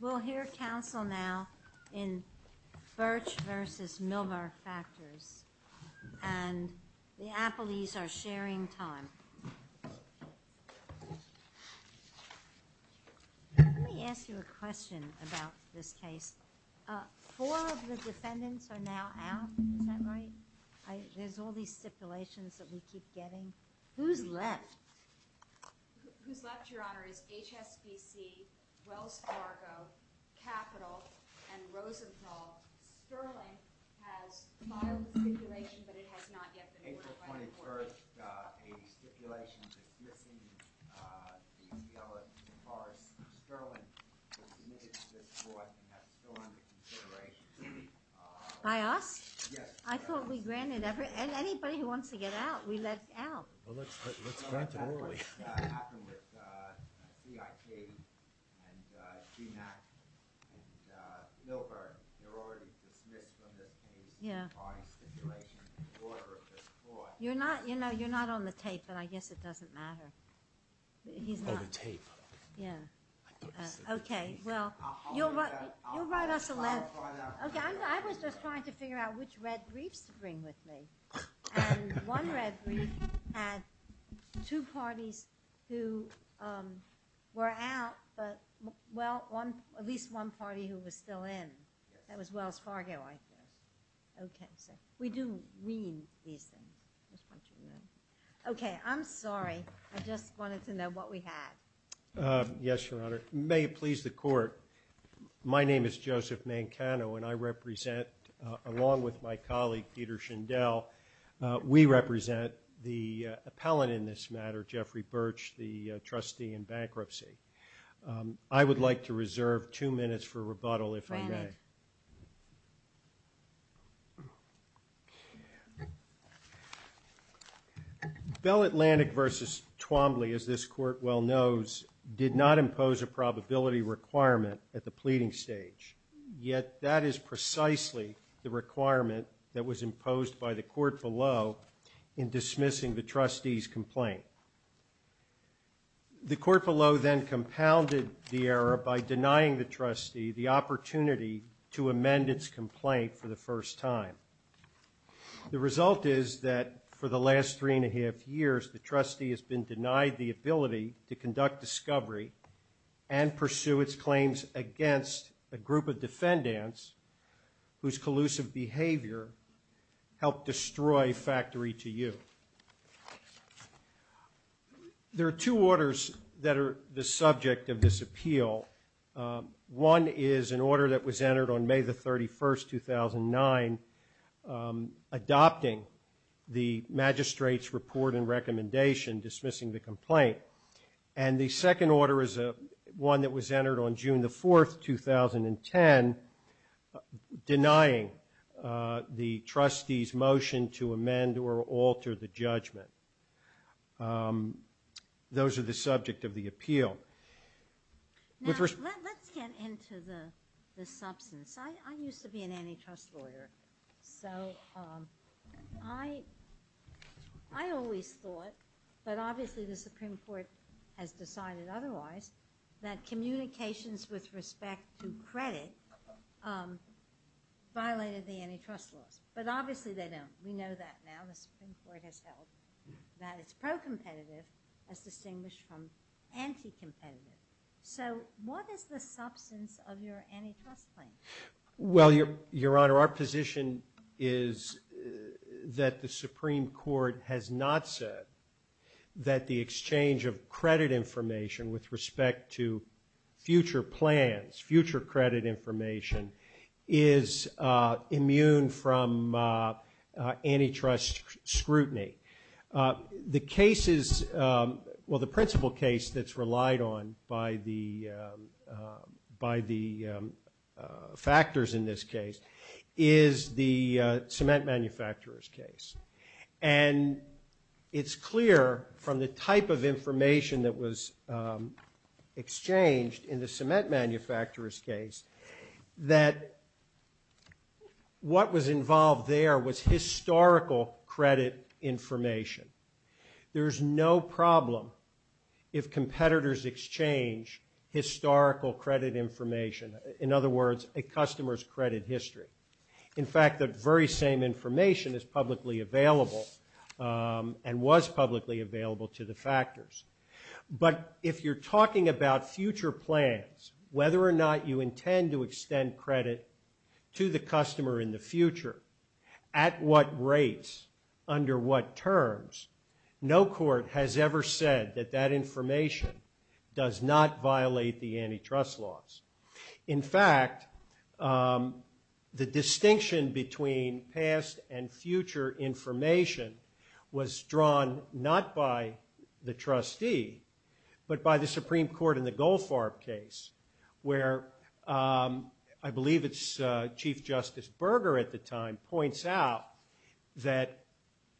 We'll hear counsel now in Burtch v. Milberg Factors and the Appleys are sharing time. Let me ask you a question about this case. Four of the defendants are now out, is that right? There's all these stipulations that we keep getting. Who's left? Who's left, Your Honor, is HSBC, Wells Fargo, Capital, and Rosenthal. Sterling has filed the stipulation, but it has not yet been awarded by the court. April 21st, a stipulation dismissing the appeal as far as Sterling is committed to this court and that's still under consideration. By us? Yes. I thought we granted everybody. Anybody who wants to get out, we let out. Well, let's grant it orally. The same thing happened with CIT and GMAC and Milberg. They're already dismissed from this case. Yeah. The party stipulation, the order of this court. You're not on the tape, but I guess it doesn't matter. On the tape? Yeah. Okay, well, you'll write us a letter. Okay, I was just trying to figure out which red briefs to bring with me. One red brief had two parties who were out, but, well, at least one party who was still in. That was Wells Fargo, I guess. Okay, so we do read these things. Okay, I'm sorry. I just wanted to know what we had. Yes, Your Honor. May it please the court. My name is Joseph Mancano, and I represent, along with my colleague, Peter Shindell, we represent the appellant in this matter, Jeffrey Birch, the trustee in bankruptcy. I would like to reserve two minutes for rebuttal, if I may. Granted. Okay. Bell Atlantic v. Twombly, as this court well knows, did not impose a probability requirement at the pleading stage, yet that is precisely the requirement that was imposed by the court below in dismissing the trustee's complaint. The court below then compounded the error by denying the trustee the opportunity to amend its complaint for the first time. The result is that, for the last three and a half years, the trustee has been denied the ability to conduct discovery and pursue its claims against a group of defendants whose collusive behavior helped destroy Factory to You. There are two orders that are the subject of this appeal. One is an order that was entered on May the 31st, 2009, adopting the magistrate's report and recommendation dismissing the complaint, and the second order is one that was entered on June the 4th, 2010, denying the trustee's motion to amend or alter the judgment. Those are the subject of the appeal. Now, let's get into the substance. I used to be an antitrust lawyer. So I always thought, but obviously the Supreme Court has decided otherwise, that communications with respect to credit violated the antitrust laws. But obviously they don't. We know that now. The Supreme Court has held that it's pro-competitive as distinguished from anti-competitive. So what is the substance of your antitrust claim? Well, Your Honor, our position is that the Supreme Court has not said that the exchange of credit information with respect to future plans, future credit information, is immune from antitrust scrutiny. The case is, well, the principal case that's relied on by the factors in this case is the cement manufacturer's case. And it's clear from the type of information that was exchanged in the cement manufacturer's case that what was involved there was historical credit information. There's no problem if competitors exchange historical credit information, in other words, a customer's credit history. In fact, the very same information is publicly available and was publicly available to the factors. But if you're talking about future plans, whether or not you intend to extend credit to the customer in the future, at what rates, under what terms, no court has ever said that that information does not violate the antitrust laws. In fact, the distinction between past and future information was drawn not by the trustee, but by the Supreme Court in the Goldfarb case, where I believe it's Chief Justice Berger at the time points out that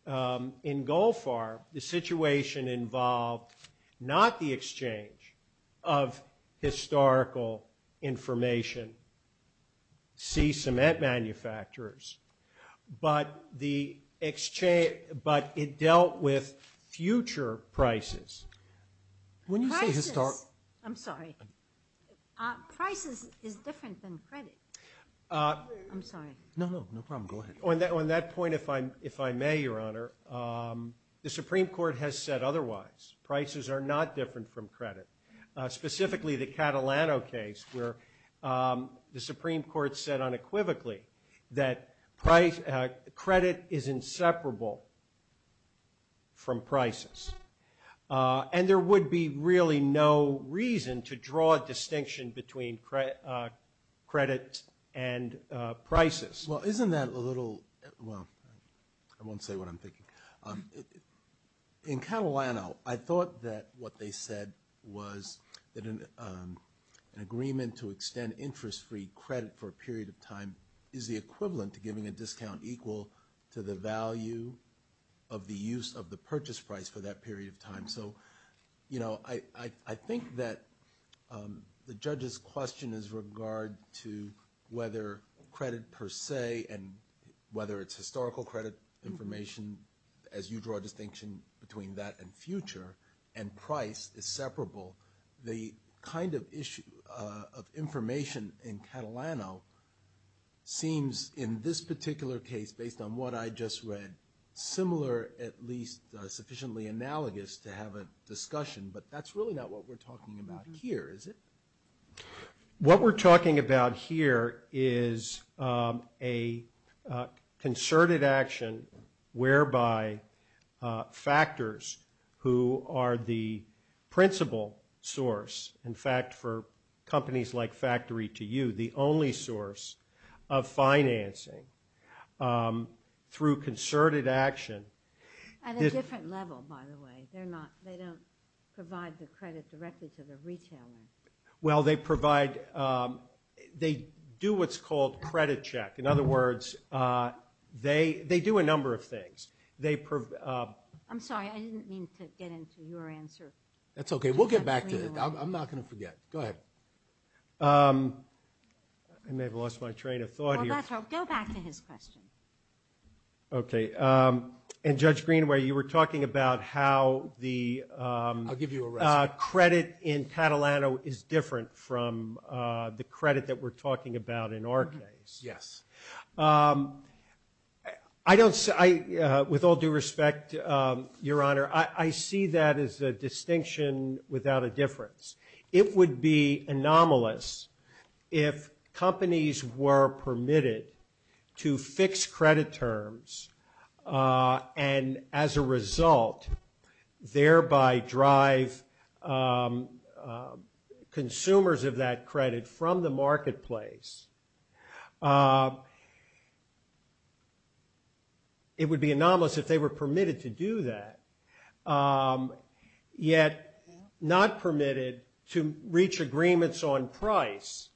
in Goldfarb, the situation involved not the exchange of historical information, see cement manufacturers, but it dealt with future prices. When you say historical... I'm sorry. Prices is different than credit. I'm sorry. No, no, no problem. Go ahead. On that point, if I may, Your Honor, the Supreme Court has said otherwise. Prices are not different from credit. Specifically, the Catalano case, where the Supreme Court said unequivocally that credit is inseparable from prices. And there would be really no reason to draw a distinction between credit and prices. Well, isn't that a little... In Catalano, I thought that what they said was that an agreement to extend interest-free credit for a period of time is the equivalent to giving a discount equal to the value of the use of the purchase price for that period of time. So, you know, I think that the judge's question is regard to whether credit per se and whether it's historical credit information, as you draw a distinction between that and future, and price is separable, the kind of issue of information in Catalano seems, in this particular case, based on what I just read, similar, at least sufficiently analogous to have a discussion. But that's really not what we're talking about here, is it? What we're talking about here is a concerted action whereby factors who are the principal source, in fact, for companies like Factory to You, the only source of financing, through concerted action... At a different level, by the way. They don't provide the credit directly to the retailer. Well, they provide... They do what's called credit check. In other words, they do a number of things. I'm sorry, I didn't mean to get into your answer. That's okay. We'll get back to it. I'm not going to forget. Go ahead. I may have lost my train of thought here. Go back to his question. Okay. Judge Greenway, you were talking about how the credit in Catalano is different from the credit that we're talking about in our case. Yes. With all due respect, Your Honor, I see that as a distinction without a difference. It would be anomalous if companies were permitted to fix credit terms and, as a result, thereby drive consumers of that credit from the marketplace. It would be anomalous if they were permitted to do that, yet not permitted to reach agreements on price.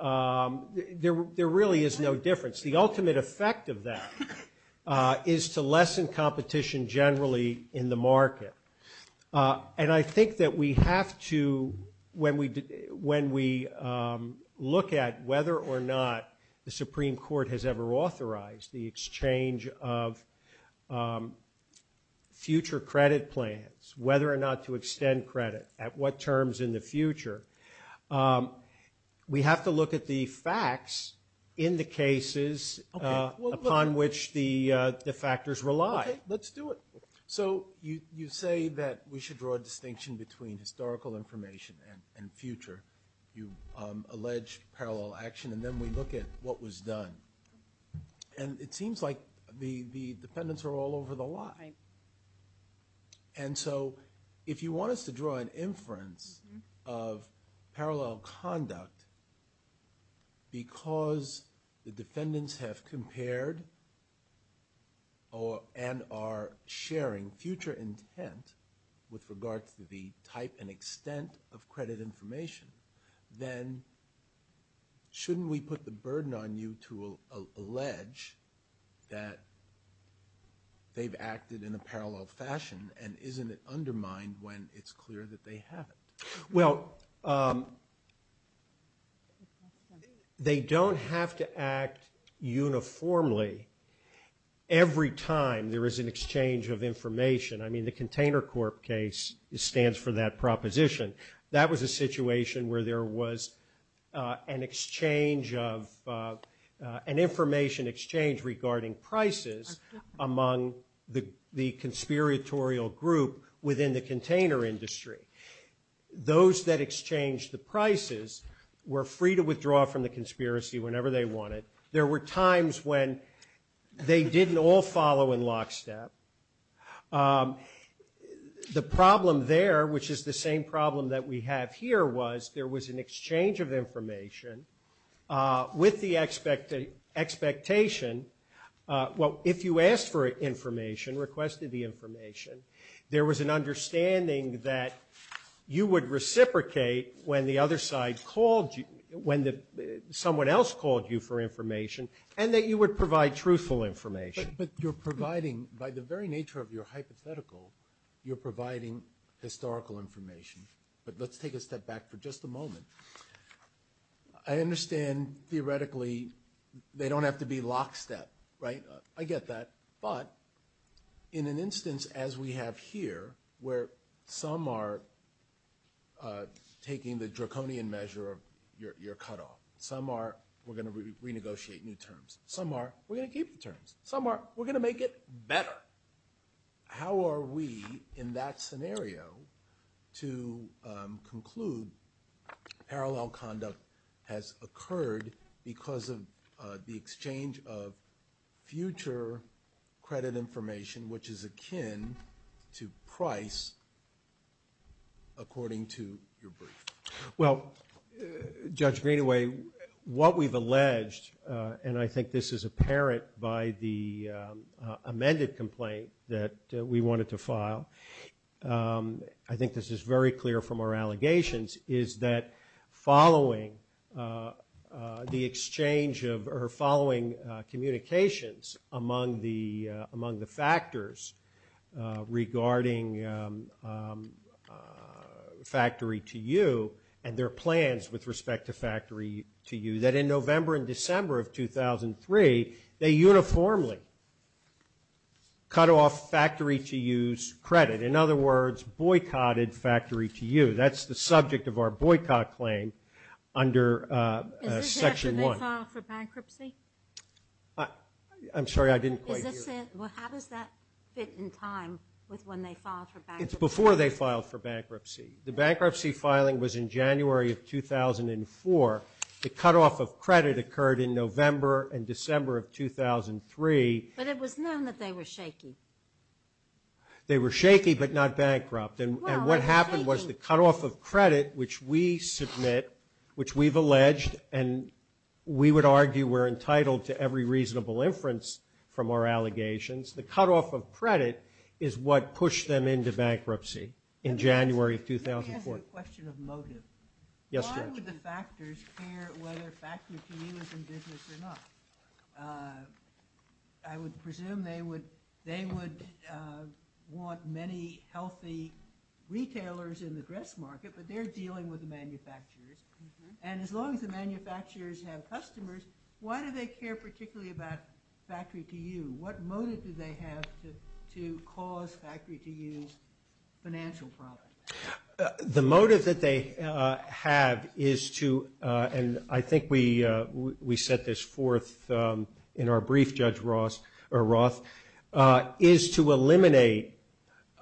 There really is no difference. The ultimate effect of that is to lessen competition generally in the market. And I think that we have to, when we look at whether or not the Supreme Court has ever authorized the exchange of future credit plans, whether or not to extend credit at what terms in the future, we have to look at the facts in the cases upon which the factors rely. Okay. Let's do it. So you say that we should draw a distinction between historical information and future. You allege parallel action, and then we look at what was done. And it seems like the defendants are all over the line. And so if you want us to draw an inference of parallel conduct because the defendants have compared and are sharing future intent with regards to the type and extent of credit information, then shouldn't we put the burden on you to allege that they've acted in a parallel fashion and isn't it undermined when it's clear that they haven't? Well, they don't have to act uniformly every time there is an exchange of information. I mean, the Container Corp case stands for that proposition. That was a situation where there was an information exchange regarding prices among the conspiratorial group within the container industry. Those that exchanged the prices were free to withdraw from the conspiracy whenever they wanted. There were times when they didn't all follow in lockstep. The problem there, which is the same problem that we have here, was there was an exchange of information with the expectation. Well, if you asked for information, requested the information, there was an understanding that you would reciprocate when the other side called you, when someone else called you for information, and that you would provide truthful information. But you're providing, by the very nature of your hypothetical, you're providing historical information. But let's take a step back for just a moment. I understand, theoretically, they don't have to be lockstep, right? I get that. But in an instance as we have here, where some are taking the draconian measure of your cutoff, some are, we're going to keep the terms. Some are, we're going to make it better. How are we, in that scenario, to conclude parallel conduct has occurred because of the exchange of future credit information, which is akin to price, according to your brief? Well, Judge Greenaway, what we've alleged, and I think this is apparent by the amended complaint that we wanted to file, I think this is very clear from our allegations, is that following communications among the factors regarding Factory to You and their plans with respect to Factory to You, that in November and December of 2003, they uniformly cut off Factory to You's credit. In other words, boycotted Factory to You. That's the subject of our boycott claim under Section 1. Is this after they filed for bankruptcy? I'm sorry, I didn't quite hear you. Well, how does that fit in time with when they filed for bankruptcy? It's before they filed for bankruptcy. The bankruptcy filing was in January of 2004. The cutoff of credit occurred in November and December of 2003. But it was known that they were shaky. They were shaky but not bankrupt. And what happened was the cutoff of credit, which we submit, which we've alleged, and we would argue we're entitled to every reasonable inference from our allegations, the cutoff of credit is what pushed them into bankruptcy in January of 2004. Let me ask you a question of motive. Yes, Judge. Why would the factors care whether Factory to You is in business or not? I would presume they would want many healthy retailers in the dress market, but they're dealing with the manufacturers. And as long as the manufacturers have customers, why do they care particularly about Factory to You? What motive do they have to cause Factory to You's financial problems? The motive that they have is to, and I think we set this forth in our brief, Judge Roth, is to eliminate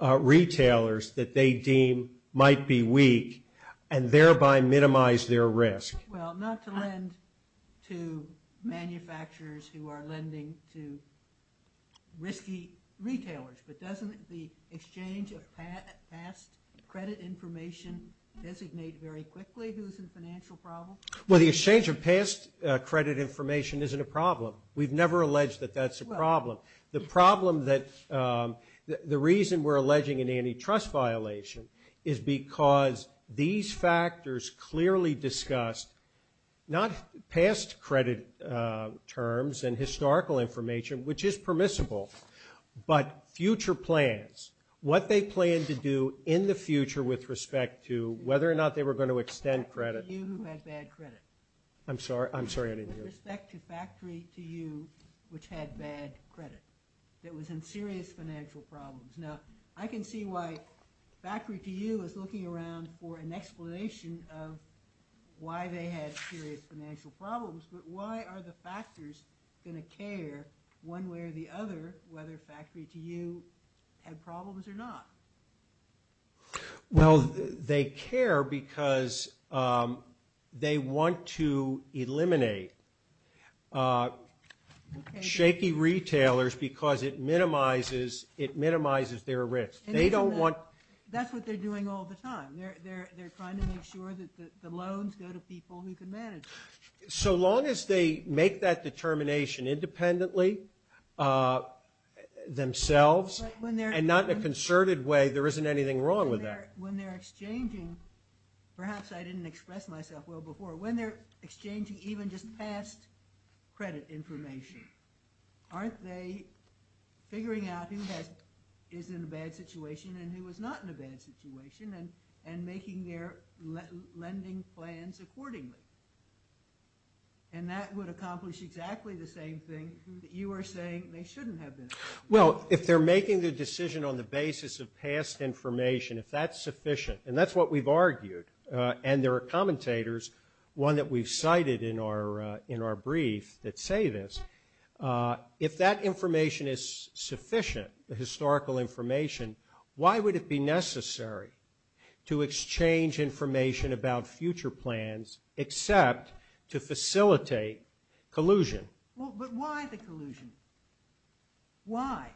retailers that they deem might be weak and thereby minimize their risk. Well, not to lend to manufacturers who are lending to risky retailers, but doesn't the exchange of past credit information designate very quickly who's in financial problem? Well, the exchange of past credit information isn't a problem. We've never alleged that that's a problem. The problem that the reason we're alleging an antitrust violation is because these factors clearly discussed, not past credit terms and historical information, which is permissible, but future plans, what they plan to do in the future with respect to whether or not they were going to extend credit. You had bad credit. I'm sorry? I'm sorry, I didn't hear you. With respect to Factory to You, which had bad credit, that was in serious financial problems. Now, I can see why Factory to You is looking around for an explanation of why they had serious financial problems, but why are the factors going to care one way or the other whether Factory to You had problems or not? Well, they care because they want to eliminate shaky retailers because it minimizes their risk. That's what they're doing all the time. They're trying to make sure that the loans go to people who can manage them. So long as they make that determination independently themselves and not in a concerted way, there isn't anything wrong with that. When they're exchanging, perhaps I didn't express myself well before, when they're exchanging even just past credit information, aren't they figuring out who is in a bad situation and who is not in a bad situation and making their lending plans accordingly? And that would accomplish exactly the same thing that you are saying they shouldn't have been doing. Well, if they're making the decision on the basis of past information, if that's sufficient, and that's what we've argued and there are commentators, one that we've cited in our brief that say this, if that information is sufficient, the historical information, why would it be necessary to exchange information about future plans except to facilitate collusion? But why the collusion? Why?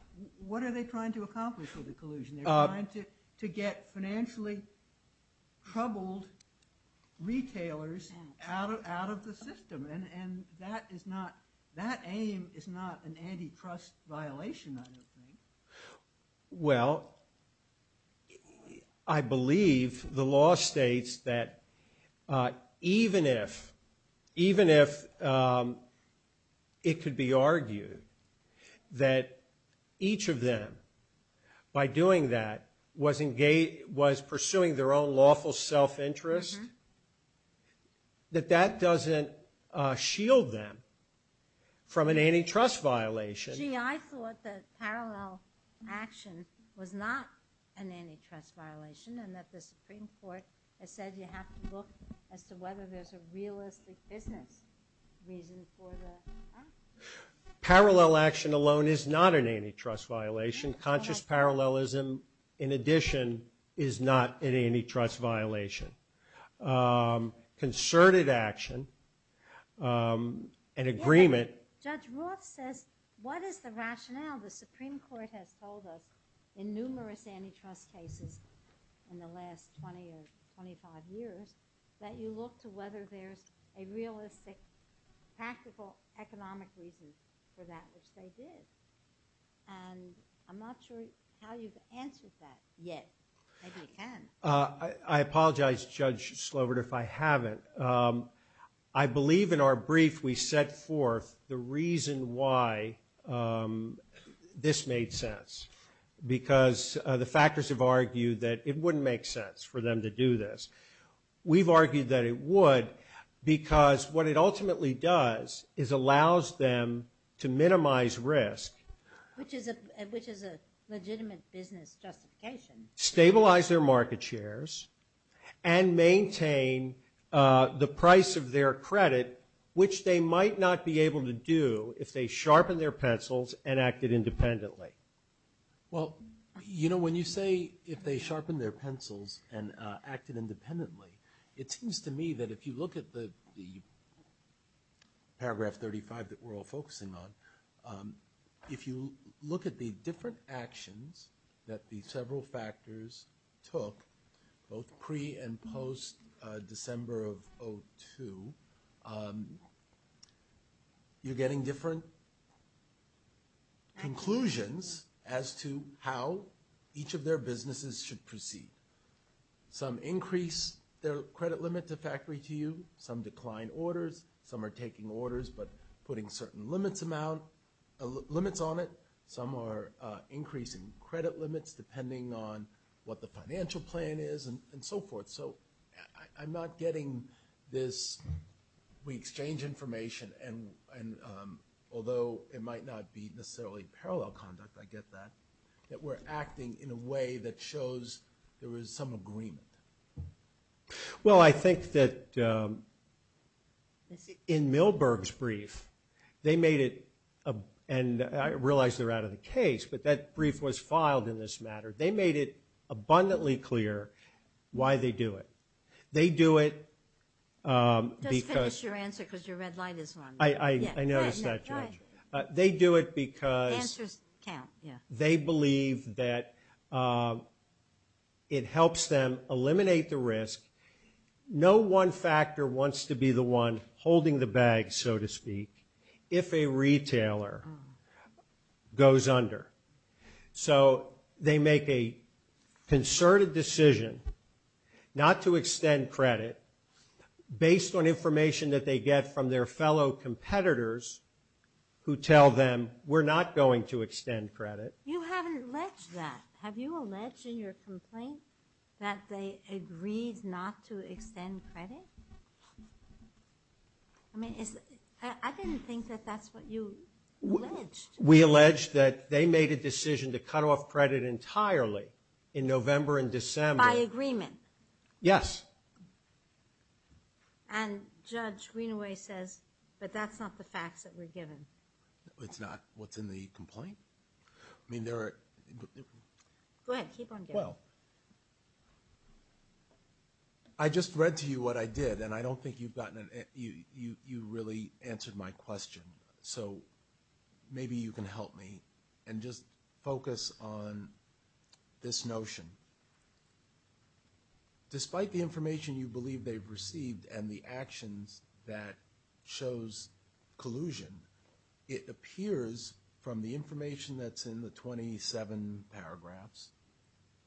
What are they trying to accomplish with the collusion? They're trying to get financially troubled retailers out of the system. And that aim is not an antitrust violation, I don't think. Well, I believe the law states that even if it could be argued that each of them, by doing that, was pursuing their own lawful self-interest, that that doesn't shield them from an antitrust violation. Gee, I thought that parallel action was not an antitrust violation and that the Supreme Court has said you have to look as to whether there's a realistic business reason for that. Parallel action alone is not an antitrust violation. Conscious parallelism, in addition, is not an antitrust violation. Concerted action, an agreement. Judge Roth says what is the rationale? The Supreme Court has told us in numerous antitrust cases in the last 20 or 25 years that you look to whether there's a realistic, practical economic reason for that, which they did. And I'm not sure how you've answered that yet. Maybe you can. I apologize, Judge Slovert, if I haven't. I believe in our brief we set forth the reason why this made sense, because the factors have argued that it wouldn't make sense for them to do this. We've argued that it would because what it ultimately does is allows them to minimize risk. Which is a legitimate business justification. Stabilize their market shares and maintain the price of their credit, which they might not be able to do if they sharpened their pencils and acted independently. Well, you know, when you say if they sharpened their pencils and acted independently, it seems to me that if you look at the paragraph 35 that we're all focusing on, if you look at the different actions that the several factors took, both pre- and post-December of 2002, you're getting different conclusions as to how each of their businesses should proceed. Some increase their credit limit to factory to you. Some decline orders. Some are taking orders but putting certain limits on it. Some are increasing credit limits depending on what the financial plan is and so forth. So I'm not getting this we exchange information, and although it might not be necessarily parallel conduct, I get that, that we're acting in a way that shows there is some agreement. Well, I think that in Milberg's brief, they made it, and I realize they're out of the case, but that brief was filed in this matter. They made it abundantly clear why they do it. They do it because- Just finish your answer because your red light is on. I noticed that, George. They do it because- Answers count, yeah. They believe that it helps them eliminate the risk. No one factor wants to be the one holding the bag, so to speak. If a retailer goes under. So they make a concerted decision not to extend credit based on information that they get from their fellow competitors who tell them we're not going to extend credit. You haven't alleged that. Have you alleged in your complaint that they agreed not to extend credit? I mean, I didn't think that that's what you alleged. We alleged that they made a decision to cut off credit entirely in November and December. By agreement? Yes. And Judge Greenaway says, but that's not the facts that we're given. It's not what's in the complaint? I mean, there are- Go ahead, keep on going. Well, I just read to you what I did, and I don't think you really answered my question. So maybe you can help me and just focus on this notion. Despite the information you believe they've received and the actions that shows collusion, it appears from the information that's in the 27 paragraphs,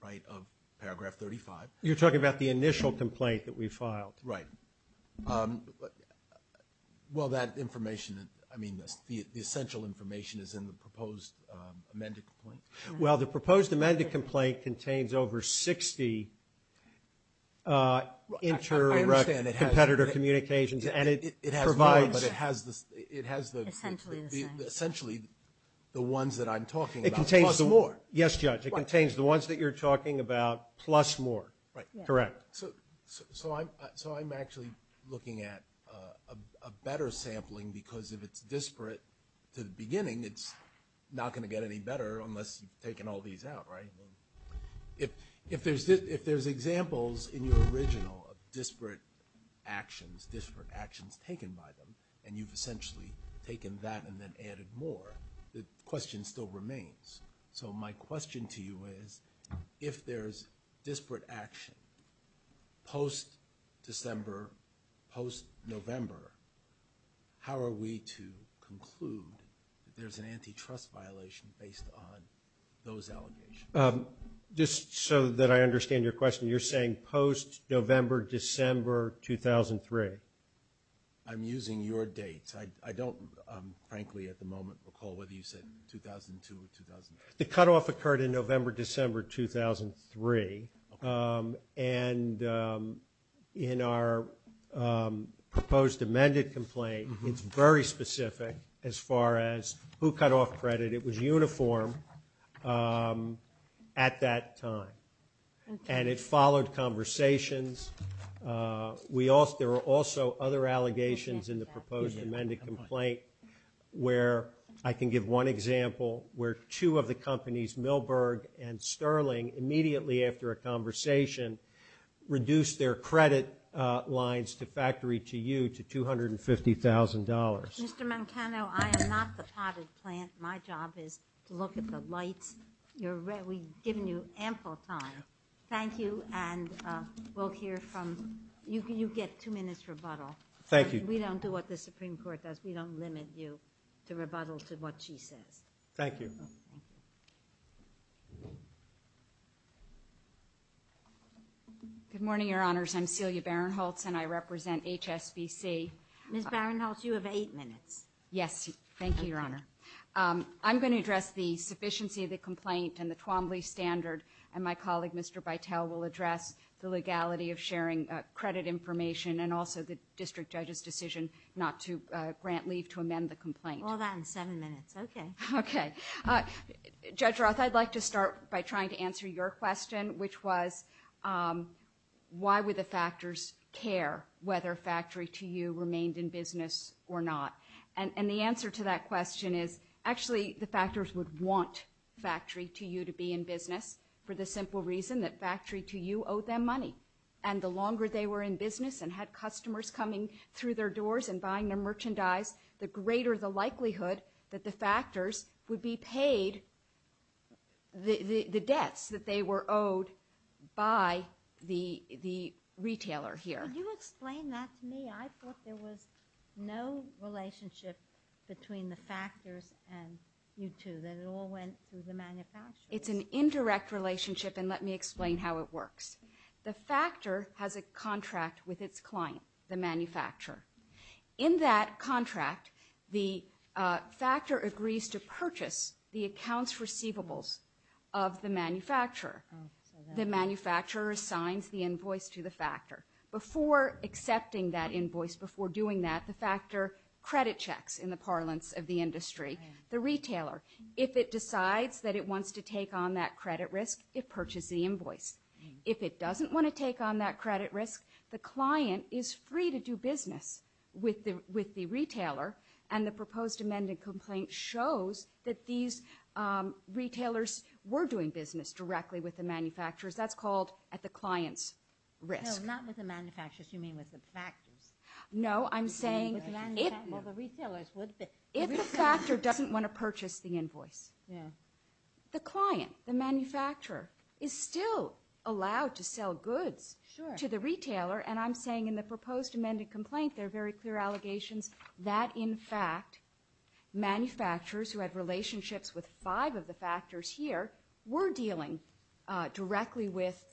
right, of paragraph 35- You're talking about the initial complaint that we filed. Right. Well, that information, I mean, the essential information is in the proposed amended complaint. Well, the proposed amended complaint contains over 60 inter-competitor communications, and it provides- Essentially the same. Essentially the ones that I'm talking about plus more. Yes, Judge. It contains the ones that you're talking about plus more. Correct. So I'm actually looking at a better sampling because if it's disparate to the beginning, it's not going to get any better unless you've taken all these out, right? If there's examples in your original of disparate actions, disparate actions taken by them, and you've essentially taken that and then added more, the question still remains. So my question to you is, if there's disparate action post-December, post-November, how are we to conclude that there's an antitrust violation based on those allegations? Just so that I understand your question, you're saying post-November, December 2003? I'm using your dates. I don't, frankly, at the moment recall whether you said 2002 or 2003. The cutoff occurred in November, December 2003, and in our proposed amended complaint, it's very specific as far as who cut off credit. It was uniform at that time, and it followed conversations. There were also other allegations in the proposed amended complaint where I can give one example where two of the companies, Milberg and Sterling, immediately after a conversation, reduced their credit lines to factory to you to $250,000. Mr. Mancano, I am not the potted plant. My job is to look at the lights. We've given you ample time. Thank you, and we'll hear from you. You get two minutes rebuttal. Thank you. We don't do what the Supreme Court does. We don't limit you to rebuttal to what she says. Thank you. Good morning, Your Honors. I'm Celia Barinholtz, and I represent HSBC. Ms. Barinholtz, you have eight minutes. Yes. Thank you, Your Honor. I'm going to address the sufficiency of the complaint and the Twombly standard, and my colleague, Mr. Beitel, will address the legality of sharing credit information and also the district judge's decision not to grant leave to amend the complaint. All that in seven minutes. Okay. Okay. Judge Roth, I'd like to start by trying to answer your question, which was, why would the factors care whether factory to you remained in business or not? And the answer to that question is, actually, the factors would want factory to you to be in business for the simple reason that factory to you owed them money. And the longer they were in business and had customers coming through their doors and buying their merchandise, the greater the likelihood that the factors would be paid the debts that they were owed by the retailer here. Could you explain that to me? I thought there was no relationship between the factors and you two, that it all went through the manufacturers. It's an indirect relationship, and let me explain how it works. The factor has a contract with its client, the manufacturer. In that contract, the factor agrees to purchase the accounts receivables of the manufacturer. The manufacturer assigns the invoice to the factor. Before accepting that invoice, before doing that, the factor credit checks in the parlance of the industry the retailer. If it decides that it wants to take on that credit risk, it purchases the invoice. If it doesn't want to take on that credit risk, the client is free to do business with the retailer, and the proposed amended complaint shows that these retailers were doing business directly with the manufacturers. That's called at the client's risk. No, not with the manufacturers. You mean with the factors. No, I'm saying if the factor doesn't want to purchase the invoice, the client, the manufacturer, is still allowed to sell goods to the retailer, and I'm saying in the proposed amended complaint there are very clear allegations that, in fact, manufacturers who had relationships with five of the factors here were dealing directly with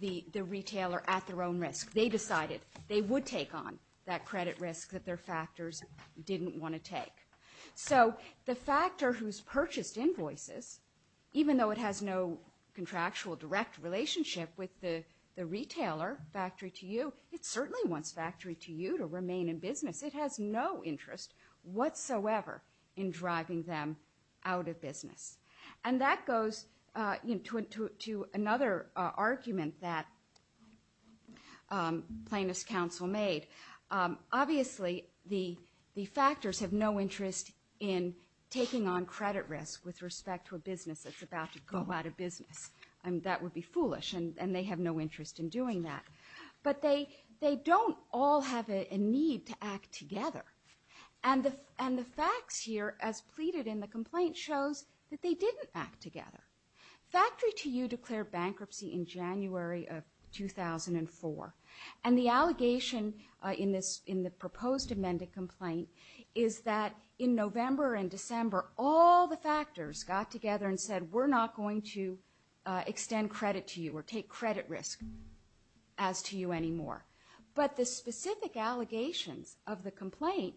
the retailer at their own risk. They decided they would take on that credit risk that their factors didn't want to take. So the factor who's purchased invoices, even though it has no contractual direct relationship with the retailer, factory to you, it certainly wants factory to you to remain in business. It has no interest whatsoever in driving them out of business. And that goes to another argument that Plaintiff's Counsel made. Obviously the factors have no interest in taking on credit risk with respect to a business that's about to go out of business. That would be foolish, and they have no interest in doing that. But they don't all have a need to act together. And the facts here, as pleaded in the complaint, shows that they didn't act together. Factory to you declared bankruptcy in January of 2004. And the allegation in the proposed amended complaint is that in November and December all the factors got together and said we're not going to extend credit to you or take credit risk as to you anymore. But the specific allegations of the complaint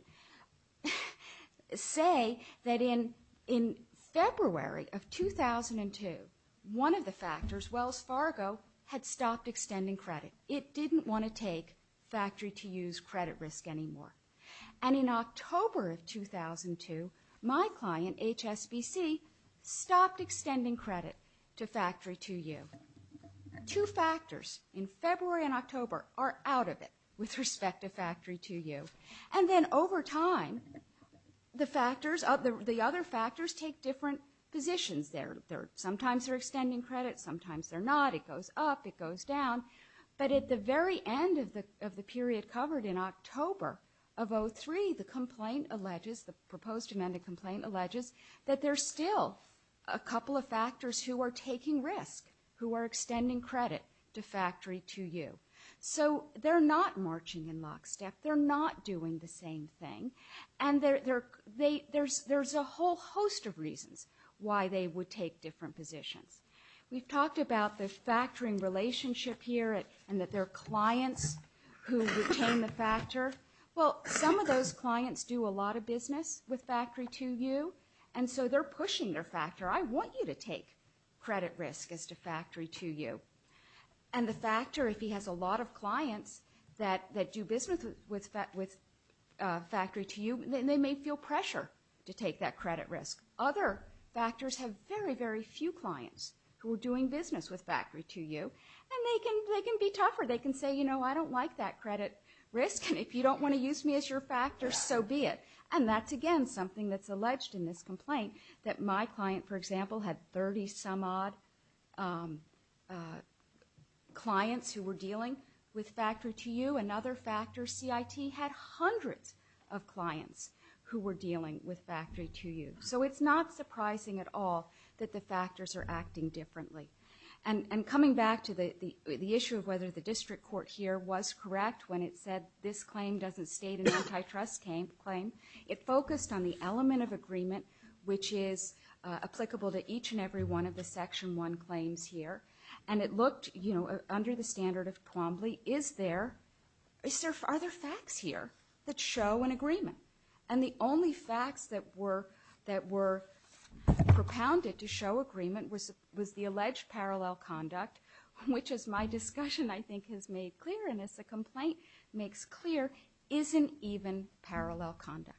say that in February of 2002, one of the factors, Wells Fargo, had stopped extending credit. It didn't want to take factory to you's credit risk anymore. And in October of 2002, my client, HSBC, stopped extending credit to factory to you. Two factors in February and October are out of it with respect to factory to you. And then over time, the other factors take different positions. Sometimes they're extending credit, sometimes they're not. It goes up, it goes down. But at the very end of the period covered in October of 2003, the complaint alleges, the proposed amended complaint alleges, that there's still a couple of factors who are taking risk, who are extending credit to factory to you. So they're not marching in lockstep. They're not doing the same thing. And there's a whole host of reasons why they would take different positions. We've talked about the factoring relationship here and that there are clients who retain the factor. Well, some of those clients do a lot of business with factory to you, and so they're pushing their factor. I want you to take credit risk as to factory to you. And the factor, if he has a lot of clients that do business with factory to you, then they may feel pressure to take that credit risk. Other factors have very, very few clients who are doing business with factory to you, and they can be tougher. They can say, you know, I don't like that credit risk, and if you don't want to use me as your factor, so be it. And that's, again, something that's alleged in this complaint, that my client, for example, had 30-some-odd clients who were dealing with factory to you. Another factor, CIT, had hundreds of clients who were dealing with factory to you. So it's not surprising at all that the factors are acting differently. And coming back to the issue of whether the district court here was correct when it said this claim doesn't state an antitrust claim, it focused on the element of agreement which is applicable to each and every one of the Section 1 claims here. And it looked, you know, under the standard of Quambly, are there facts here that show an agreement? And the only facts that were propounded to show agreement was the alleged parallel conduct, which as my discussion, I think, has made clear, and as the complaint makes clear, isn't even parallel conduct.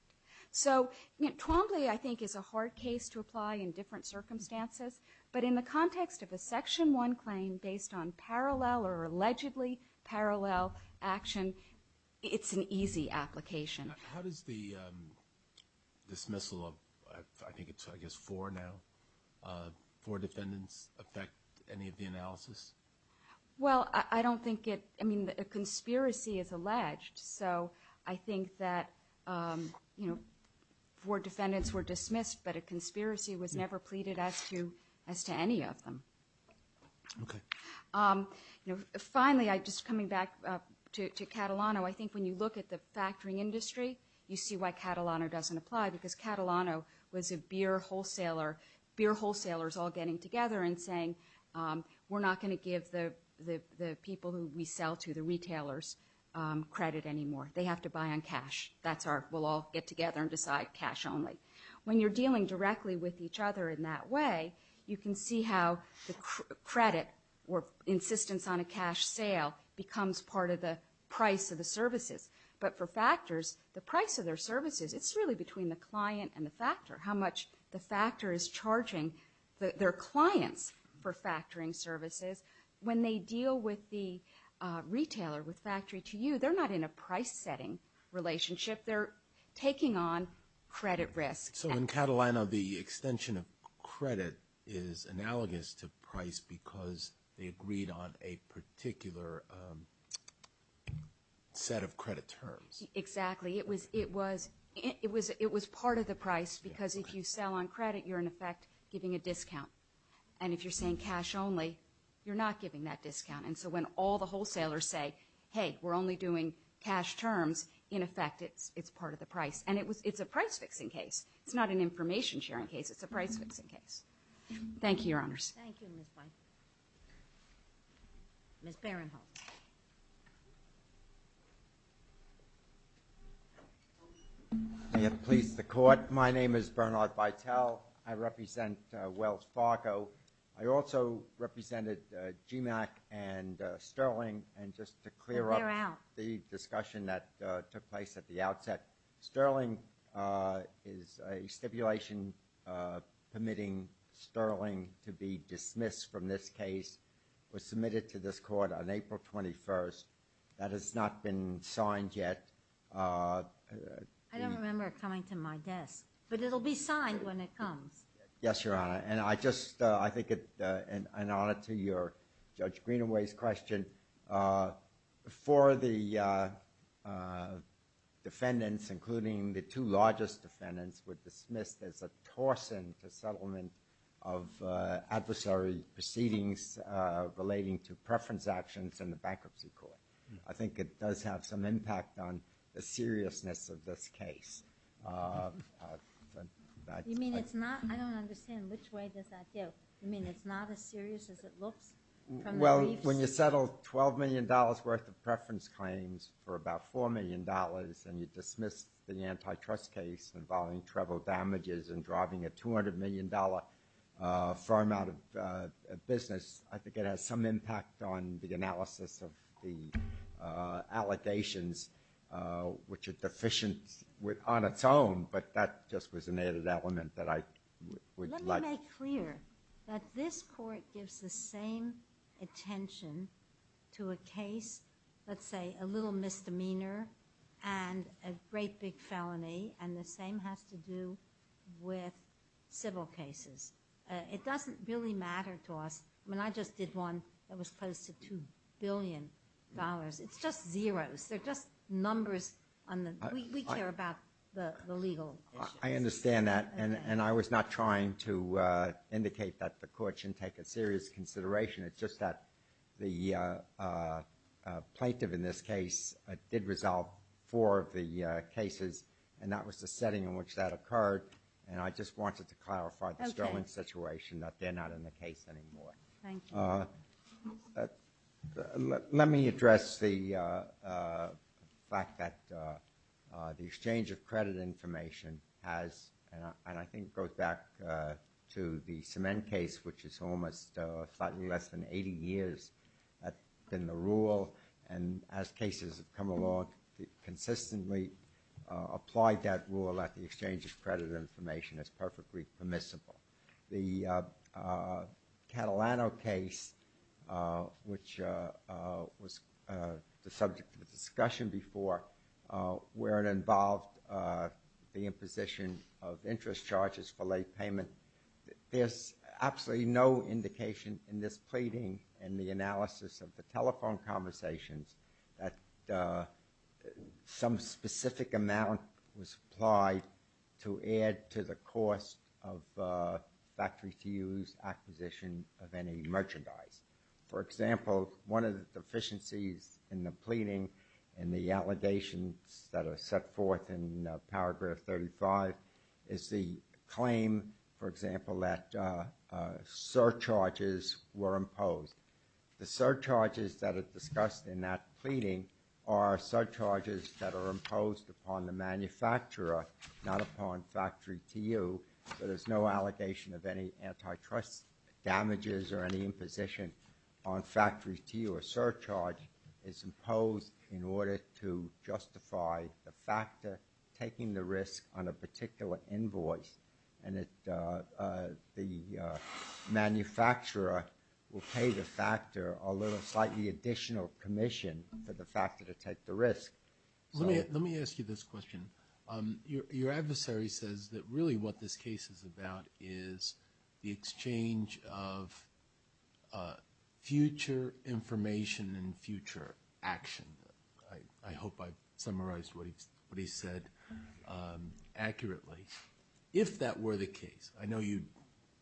So Quambly, I think, is a hard case to apply in different circumstances, but in the context of a Section 1 claim based on parallel or allegedly parallel action, it's an easy application. How does the dismissal of, I think it's, I guess, four now, four defendants affect any of the analysis? Well, I don't think it, I mean, a conspiracy is alleged, so I think that, you know, four defendants were dismissed, but a conspiracy was never pleaded as to any of them. Okay. Finally, just coming back to Catalano, I think when you look at the factoring industry, you see why Catalano doesn't apply, because Catalano was a beer wholesaler, beer wholesalers all getting together and saying, we're not going to give the people who we sell to, the retailers, credit anymore. They have to buy on cash. That's our, we'll all get together and decide cash only. When you're dealing directly with each other in that way, you can see how the credit or insistence on a cash sale becomes part of the price of the services. But for factors, the price of their services, it's really between the client and the factor, how much the factor is charging their clients for factoring services. When they deal with the retailer, with factory to you, they're not in a price-setting relationship. They're taking on credit risk. So in Catalano, the extension of credit is analogous to price because they agreed on a particular set of credit terms. Exactly. It was part of the price because if you sell on credit, you're, in effect, giving a discount. And if you're saying cash only, you're not giving that discount. And so when all the wholesalers say, hey, we're only doing cash terms, in effect, it's part of the price. And it's a price-fixing case. It's not an information-sharing case. It's a price-fixing case. Thank you, Your Honors. Thank you, Ms. Bickel. Ms. Berenholtz. May it please the Court, my name is Bernard Bitel. I represent Wells Fargo. I also represented GMAC and Sterling. And just to clear up the discussion that took place at the outset, Sterling is a stipulation permitting Sterling to be dismissed from this case. It was submitted to this Court on April 21st. That has not been signed yet. I don't remember it coming to my desk. But it will be signed when it comes. Yes, Your Honor. And I just, I think in honor to your Judge Greenaway's question, for the defendants, including the two largest defendants, were dismissed as a torsion to settlement of adversary proceedings relating to preference actions in the bankruptcy court. I think it does have some impact on the seriousness of this case. You mean it's not? I don't understand. Which way does that deal? You mean it's not as serious as it looks? Well, when you settle $12 million worth of preference claims for about $4 million and you dismiss the antitrust case involving treble damages and driving a $200 million firm out of business, I think it has some impact on the analysis of the allegations, which are deficient on its own. But that just was an added element that I would like. It's very clear that this court gives the same attention to a case, let's say a little misdemeanor and a great big felony, and the same has to do with civil cases. It doesn't really matter to us. I mean I just did one that was close to $2 billion. It's just zeros. They're just numbers. We care about the legal issues. I understand that. And I was not trying to indicate that the court should take a serious consideration. It's just that the plaintiff in this case did resolve four of the cases, and that was the setting in which that occurred, and I just wanted to clarify the Sterling situation that they're not in the case anymore. Thank you. Let me address the fact that the exchange of credit information has, and I think it goes back to the cement case, which is almost slightly less than 80 years in the rule, and as cases have come along consistently applied that rule that the exchange of credit information is perfectly permissible. The Catalano case, which was the subject of discussion before, where it involved the imposition of interest charges for late payment, there's absolutely no indication in this pleading and the analysis of the telephone conversations that some specific amount was applied to add to the cost of factory-to-use acquisition of any merchandise. For example, one of the deficiencies in the pleading and the allegations that are set forth in paragraph 35 is the claim, for example, that surcharges were imposed. The surcharges that are discussed in that pleading are surcharges that are imposed upon the manufacturer, not upon factory-to-you, so there's no allegation of any antitrust damages or any imposition on factory-to-you. A surcharge is imposed in order to justify the factor taking the risk on a particular invoice, and the manufacturer will pay the factor a little slightly additional commission for the factor to take the risk. Let me ask you this question. Your adversary says that really what this case is about is the exchange of future information and future action. I hope I summarized what he said accurately. If that were the case, I know you'd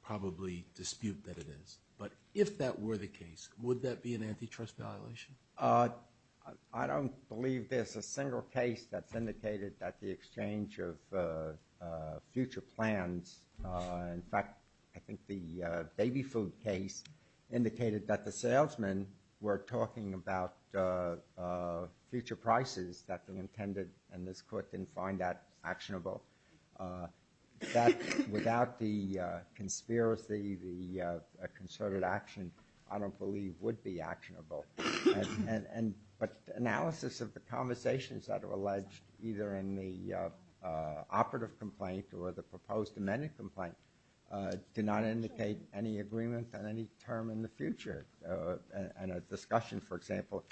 probably dispute that it is, but if that were the case, would that be an antitrust violation? I don't believe there's a single case that's indicated that the exchange of future plans, in fact, I think the baby food case indicated that the salesmen were talking about future prices that the intended and this court didn't find that actionable. Without the conspiracy, the concerted action, I don't believe would be actionable. But analysis of the conversations that are alleged either in the operative complaint or the proposed amended complaint do not indicate any agreement on any term in the future. In a discussion, for example,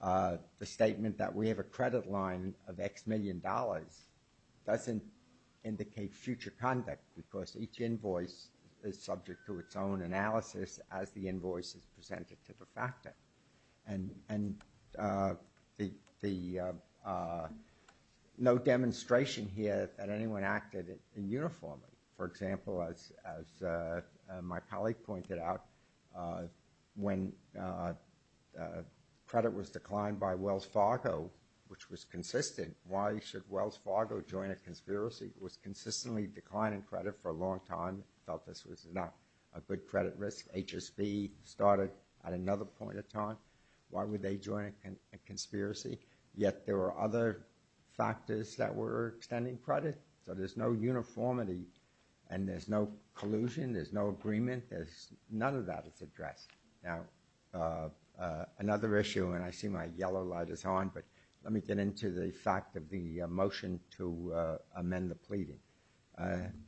the statement that we have a credit line of X million dollars doesn't indicate future conduct because each invoice is subject to its own analysis as the invoice is presented to the factor. No demonstration here that anyone acted uniformly. For example, as my colleague pointed out, when credit was declined by Wells Fargo, which was consistent, why should Wells Fargo join a conspiracy? It was consistently declining credit for a long time, felt this was not a good credit risk. HSB started at another point in time. Why would they join a conspiracy? Yet there were other factors that were extending credit. So there's no uniformity and there's no collusion, there's no agreement. None of that is addressed. Now, another issue, and I see my yellow light is on, but let me get into the fact of the motion to amend the pleading.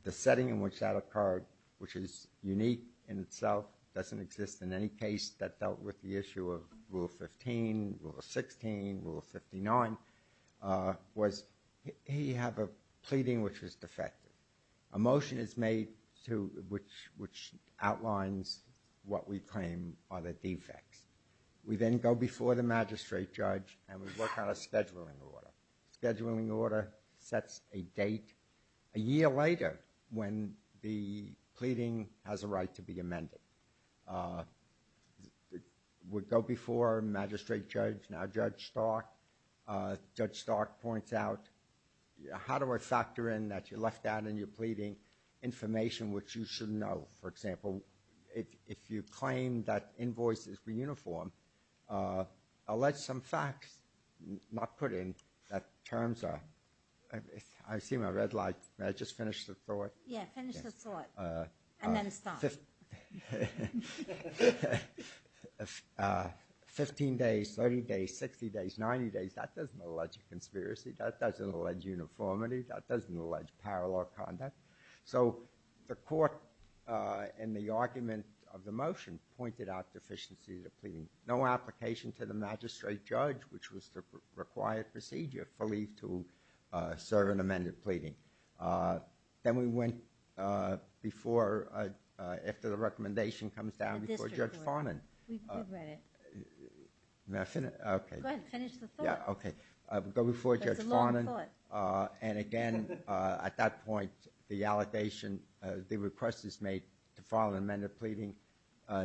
The setting in which that occurred, which is unique in itself, doesn't exist in any case that dealt with the issue of Rule 15, Rule 16, Rule 59. He had a pleading which was defective. A motion is made which outlines what we claim are the defects. We then go before the magistrate judge and we work out a scheduling order. Scheduling order sets a date a year later when the pleading has a right to be amended. We go before magistrate judge, now Judge Stark. Judge Stark points out, how do I factor in that you're left out in your pleading, information which you should know? For example, if you claim that invoices were uniform, allege some facts not put in that terms are. I see my red light. May I just finish the thought? Yeah, finish the thought and then start. 15 days, 30 days, 60 days, 90 days, that doesn't allege a conspiracy. That doesn't allege uniformity. That doesn't allege parallel conduct. So the court in the argument of the motion pointed out deficiencies of pleading. No application to the magistrate judge, which was the required procedure for leave to serve an amended pleading. Then we went before, after the recommendation comes down before Judge Farnan. May I finish? Okay. Go ahead, finish the thought. Yeah, okay. Go before Judge Farnan. That's a long thought. And again, at that point, the allegation, the request is made to file an amended pleading.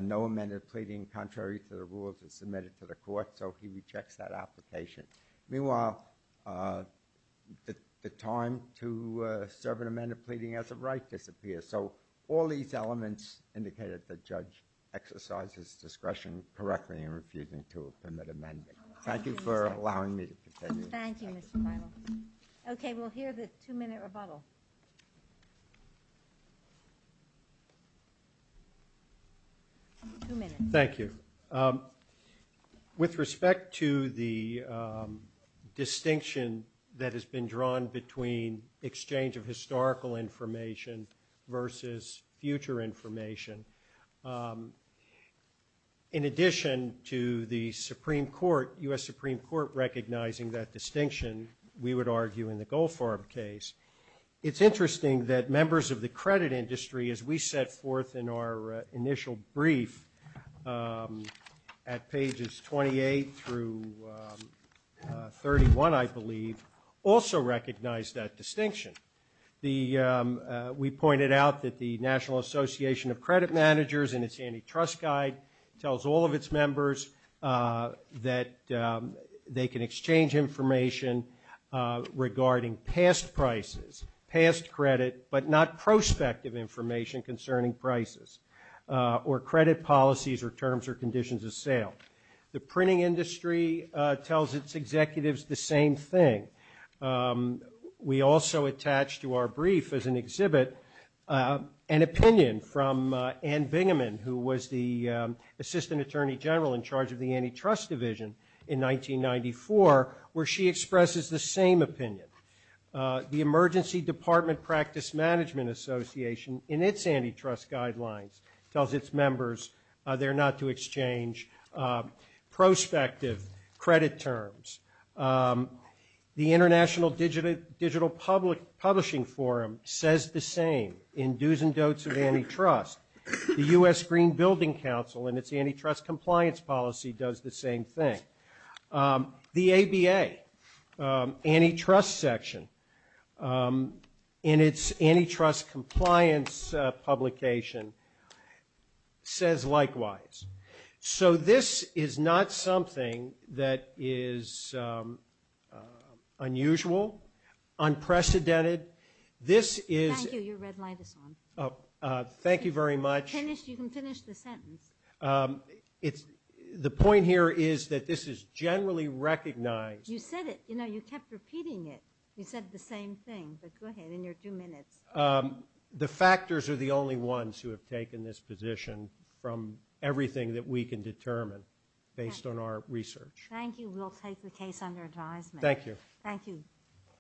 No amended pleading contrary to the rules is submitted to the court. So he rejects that application. Meanwhile, the time to serve an amended pleading as a right disappears. So all these elements indicated the judge exercises discretion correctly in refusing to permit amending. Thank you for allowing me to continue. Thank you, Mr. Feigl. Okay, we'll hear the two-minute rebuttal. Two minutes. Thank you. With respect to the distinction that has been drawn between exchange of historical information versus future information, in addition to the Supreme Court, U.S. Supreme Court, recognizing that distinction, we would argue in the Gold Farm case, it's interesting that members of the credit industry, as we set forth in our initial brief at pages 28 through 31, I believe, also recognize that distinction. We pointed out that the National Association of Credit Managers and its antitrust guide tells all of its members that they can pass credit, but not prospective information concerning prices or credit policies or terms or conditions of sale. The printing industry tells its executives the same thing. We also attach to our brief as an exhibit an opinion from Ann Bingaman, who was the Assistant Attorney General in charge of the antitrust division in 1994, where she expresses the same opinion. The Emergency Department Practice Management Association, in its antitrust guidelines, tells its members they're not to exchange prospective credit terms. The International Digital Publishing Forum says the same in dues and dotes of antitrust. The U.S. Green Building Council, in its antitrust compliance policy, does the same thing. The ABA antitrust section, in its antitrust compliance publication, says likewise. So this is not something that is unusual, unprecedented. This is... The point here is that this is generally recognized. The factors are the only ones who have taken this position from everything that we can determine based on our research. Thank you.